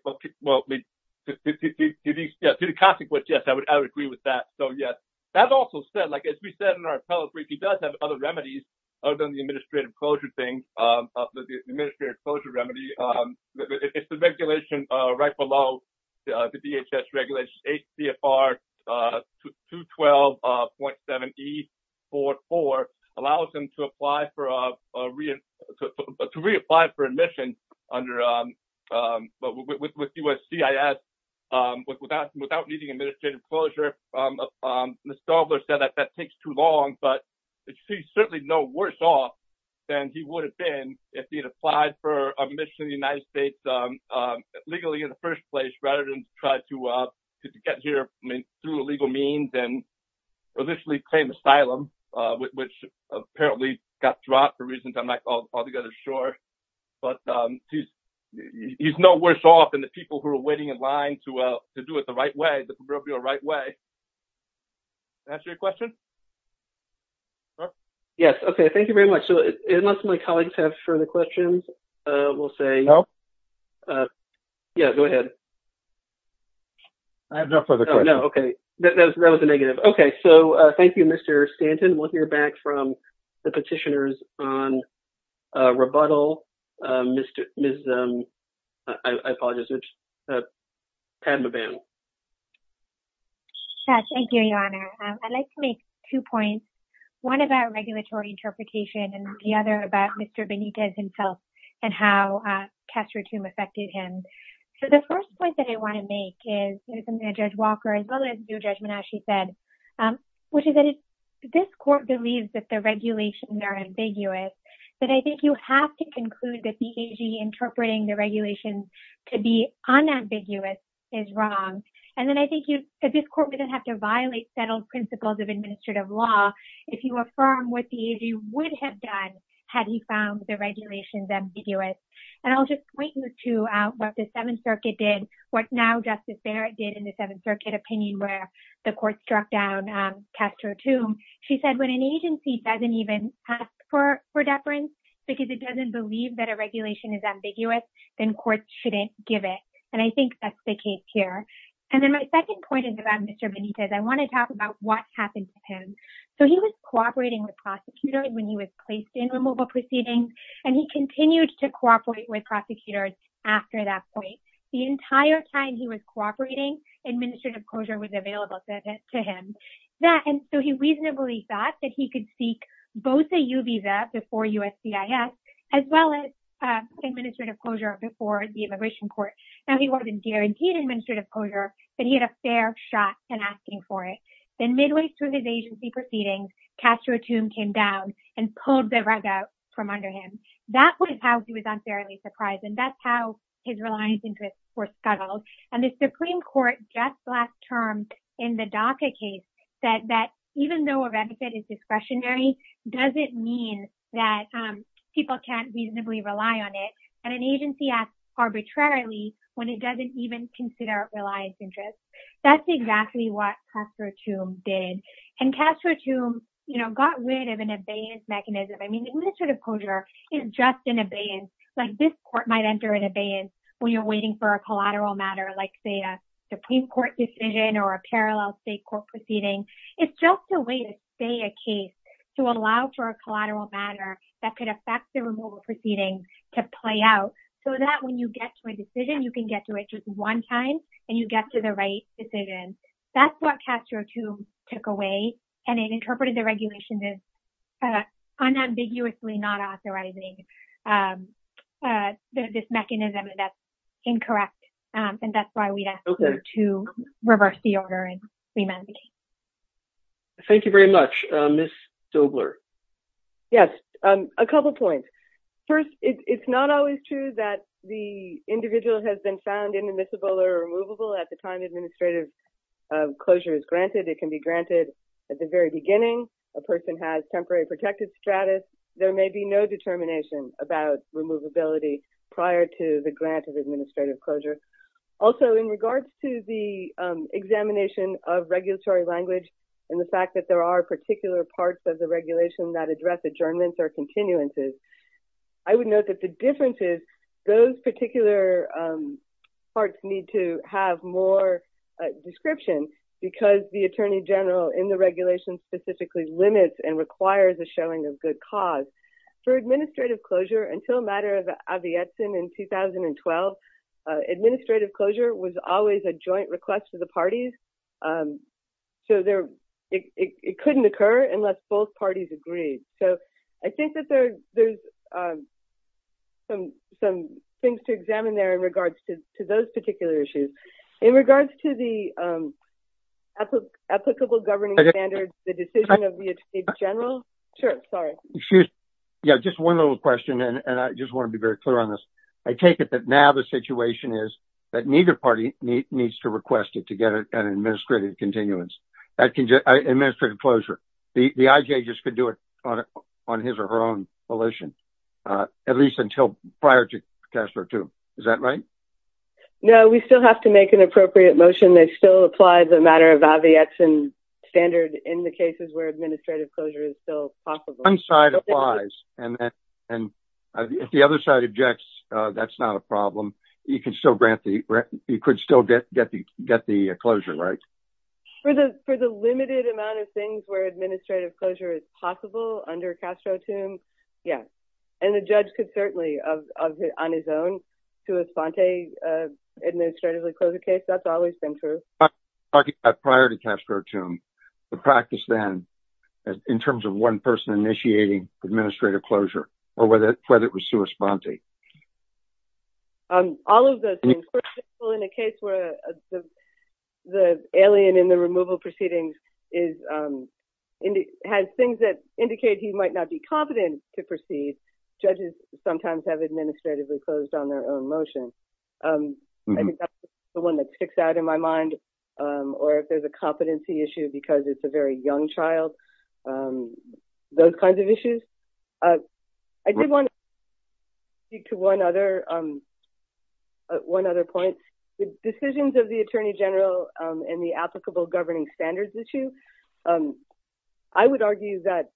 the consequence, yes, I would agree with that. So, yes, that also said, like as we said in our appellate brief, he does have other remedies other than the administrative closure thing. The administrative closure remedy is the regulation right below the DHS regulations. The DHS remedy is H.C.R. 212.7E44 allows him to apply for a to reapply for admission under with USCIS without without needing administrative closure. Mr. Dobler said that that takes too long, but it's certainly no worse off than he would have been if he had applied for admission to the United States legally in the first place, rather than try to get here through a legal means and officially claim asylum, which apparently got dropped for reasons I'm not sure. But he's no worse off than the people who are waiting in line to do it the right way, the right way. That's your question. Yes. OK. Thank you very much. So unless my colleagues have further questions, we'll say no. Yeah, go ahead. I have no further. No. OK. That was a negative. OK. So thank you, Mr. Stanton. We'll hear back from the petitioners on rebuttal. Mr. I apologize. Thank you, Your Honor. I'd like to make two points, one about regulatory interpretation and the other about Mr. Benitez himself and how Castro Tomb affected him. So the first point that I want to make is Judge Walker, as well as your judgment, as she said, which is that this court believes that the regulations are ambiguous. But I think you have to conclude that the AG interpreting the regulations to be unambiguous is wrong. And then I think you at this court wouldn't have to violate settled principles of administrative law if you affirm what the AG would have done had he found the regulations ambiguous. And I'll just point you to what the Seventh Circuit did, what now Justice Barrett did in the Seventh Circuit opinion where the court struck down Castro Tomb. She said when an agency doesn't even ask for deference because it doesn't believe that a regulation is ambiguous, then courts shouldn't give it. And I think that's the case here. And then my second point is about Mr. Benitez. I want to talk about what happened to him. So he was cooperating with prosecutors when he was placed in removal proceedings, and he continued to cooperate with prosecutors after that point. The entire time he was cooperating, administrative closure was available to him. And so he reasonably thought that he could seek both a U visa before USCIS as well as administrative closure before the immigration court. Now, he wasn't guaranteed administrative closure, but he had a fair shot at asking for it. Then midway through his agency proceedings, Castro Tomb came down and pulled the rug out from under him. That was how he was unfairly surprised. And that's how his reliance interests were scuttled. And the Supreme Court just last term in the DACA case said that even though a benefit is discretionary, does it mean that people can't reasonably rely on it? And an agency asks arbitrarily when it doesn't even consider reliance interests. That's exactly what Castro Tomb did. And Castro Tomb, you know, got rid of an abeyance mechanism. I mean, administrative closure is just an abeyance, like this court might enter an abeyance when you're waiting for a collateral matter, like say a Supreme Court decision or a parallel state court proceeding. It's just a way to say a case to allow for a collateral matter that could affect the removal proceedings to play out so that when you get to a decision, you can get to it just one time and you get to the right decision. That's what Castro Tomb took away. And it interpreted the regulations as unambiguously not authorizing this mechanism, and that's incorrect. And that's why we'd ask you to reverse the order and remand the case. Thank you very much. Ms. Dobler. Yes, a couple points. First, it's not always true that the individual has been found inadmissible or removable at the time administrative closure is granted. It can be granted at the very beginning. A person has temporary protected status. There may be no determination about removability prior to the grant of administrative closure. Also, in regards to the examination of regulatory language and the fact that there are particular parts of the regulation that address adjournments or continuances, I would note that the difference is those particular parts need to have more description because the Attorney General in the regulation specifically limits and requires a showing of good cause. For administrative closure, until a matter of Avietsin in 2012, administrative closure was always a joint request for the parties. So it couldn't occur unless both parties agreed. So I think that there's some things to examine there in regards to those particular issues. In regards to the applicable governing standards, the decision of the Attorney General. Sure. Sorry. Yeah, just one little question, and I just want to be very clear on this. I take it that now the situation is that neither party needs to request it to get an administrative closure. The IJ just could do it on his or her own volition, at least until prior to Casper 2. Is that right? No, we still have to make an appropriate motion that still applies a matter of Avietsin standard in the cases where administrative closure is still possible. One side applies, and if the other side objects, that's not a problem. You could still get the closure, right? For the limited amount of things where administrative closure is possible under Castro 2, yes. And the judge could certainly, on his own, sui sponte administratively close a case. That's always been true. Talking about prior to Casper 2, the practice then, in terms of one person initiating administrative closure, or whether it was sui sponte. All of those things. For example, in a case where the alien in the removal proceedings has things that indicate he might not be competent to proceed, judges sometimes have administratively closed on their own motion. I think that's the one that sticks out in my mind, or if there's a competency issue because it's a very young child, those kinds of issues. I did want to speak to one other point. The decisions of the Attorney General in the applicable governing standards issue, I would argue that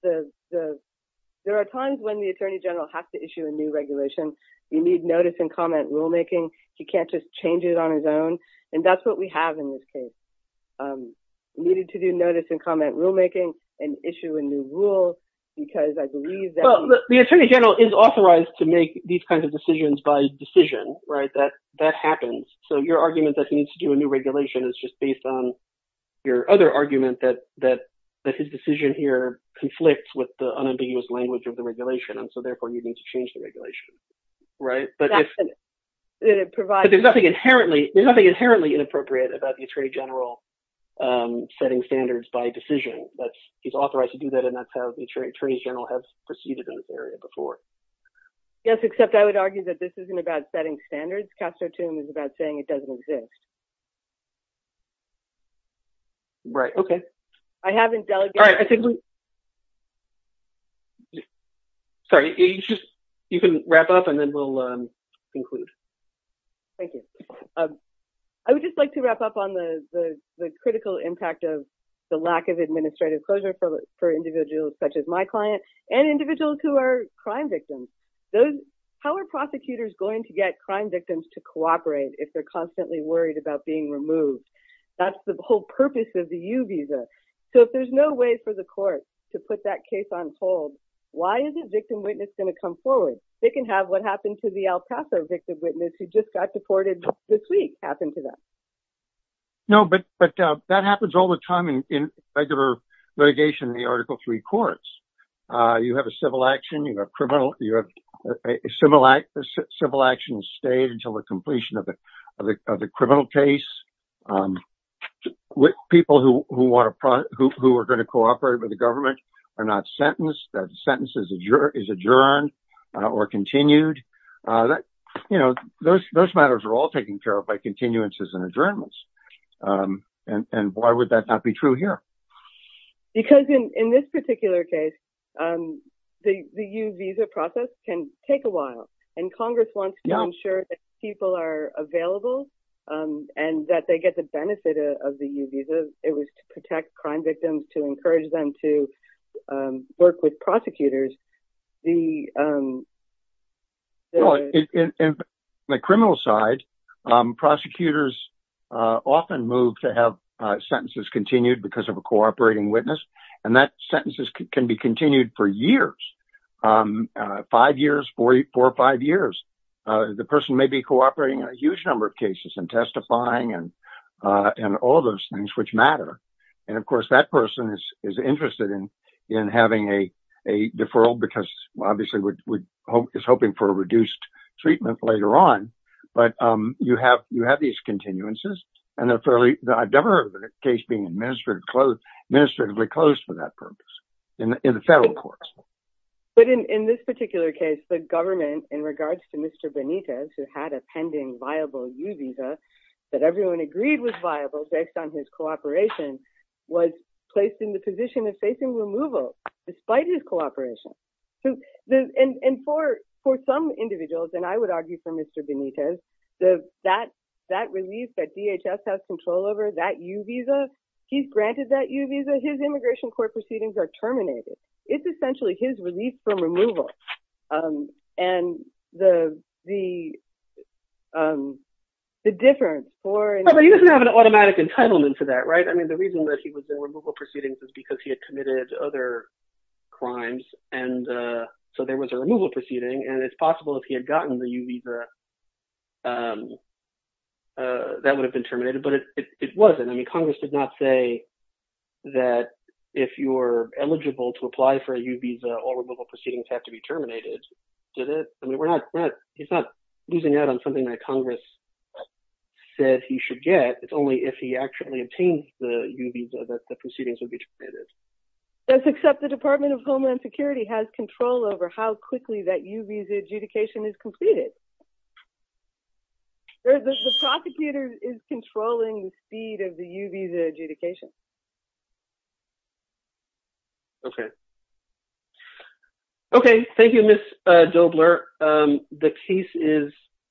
there are times when the Attorney General has to issue a new regulation. You need notice and comment rulemaking. He can't just change it on his own, and that's what we have in this case. He needed to do notice and comment rulemaking and issue a new rule because I believe that— Well, the Attorney General is authorized to make these kinds of decisions by decision. That happens. So your argument that he needs to do a new regulation is just based on your other argument that his decision here conflicts with the unambiguous language of the regulation, and so therefore you need to change the regulation. But there's nothing inherently inappropriate about the Attorney General setting standards by decision. He's authorized to do that, and that's how the Attorney General has proceeded in this area before. Yes, except I would argue that this isn't about setting standards. Castro-Toome is about saying it doesn't exist. Right, okay. I haven't delegated— Sorry, you can wrap up and then we'll conclude. Thank you. I would just like to wrap up on the critical impact of the lack of administrative closure for individuals such as my client and individuals who are crime victims. How are prosecutors going to get crime victims to cooperate if they're constantly worried about being removed? That's the whole purpose of the U visa. So if there's no way for the court to put that case on hold, why is a victim witness going to come forward? They can have what happened to the El Paso victim witness who just got deported this week happen to them. No, but that happens all the time in regular litigation in the Article III courts. You have a civil action, you have a criminal—a civil action is stayed until the completion of the criminal case. People who are going to cooperate with the government are not sentenced. That sentence is adjourned or continued. Those matters are all taken care of by continuances and adjournments. And why would that not be true here? Because in this particular case, the U visa process can take a while. And Congress wants to ensure that people are available and that they get the benefit of the U visa. It was to protect crime victims, to encourage them to work with prosecutors. On the criminal side, prosecutors often move to have sentences continued because of a cooperating witness. And that sentence can be continued for years, five years, four or five years. The person may be cooperating in a huge number of cases and testifying and all those things which matter. And, of course, that person is interested in having a deferral because obviously is hoping for a reduced treatment later on. But you have these continuances. And I've never heard of a case being administratively closed for that purpose in the federal courts. But in this particular case, the government, in regards to Mr. Benitez, who had a pending viable U visa, that everyone agreed was viable based on his cooperation, was placed in the position of facing removal despite his cooperation. And for some individuals, and I would argue for Mr. Benitez, that relief that DHS has control over, that U visa, he's granted that U visa, his immigration court proceedings are terminated. And the difference for— But he doesn't have an automatic entitlement for that, right? I mean, the reason that he was in removal proceedings is because he had committed other crimes. And so there was a removal proceeding. And it's possible if he had gotten the U visa, that would have been terminated. But it wasn't. I mean, Congress did not say that if you're eligible to apply for a U visa, all removal proceedings have to be terminated. Did it? I mean, we're not—he's not losing out on something that Congress said he should get. It's only if he actually obtains the U visa that the proceedings would be terminated. That's except the Department of Homeland Security has control over how quickly that U visa adjudication is completed. The prosecutor is controlling the speed of the U visa adjudication. Okay. Okay. Thank you, Ms. Dobler. The piece is—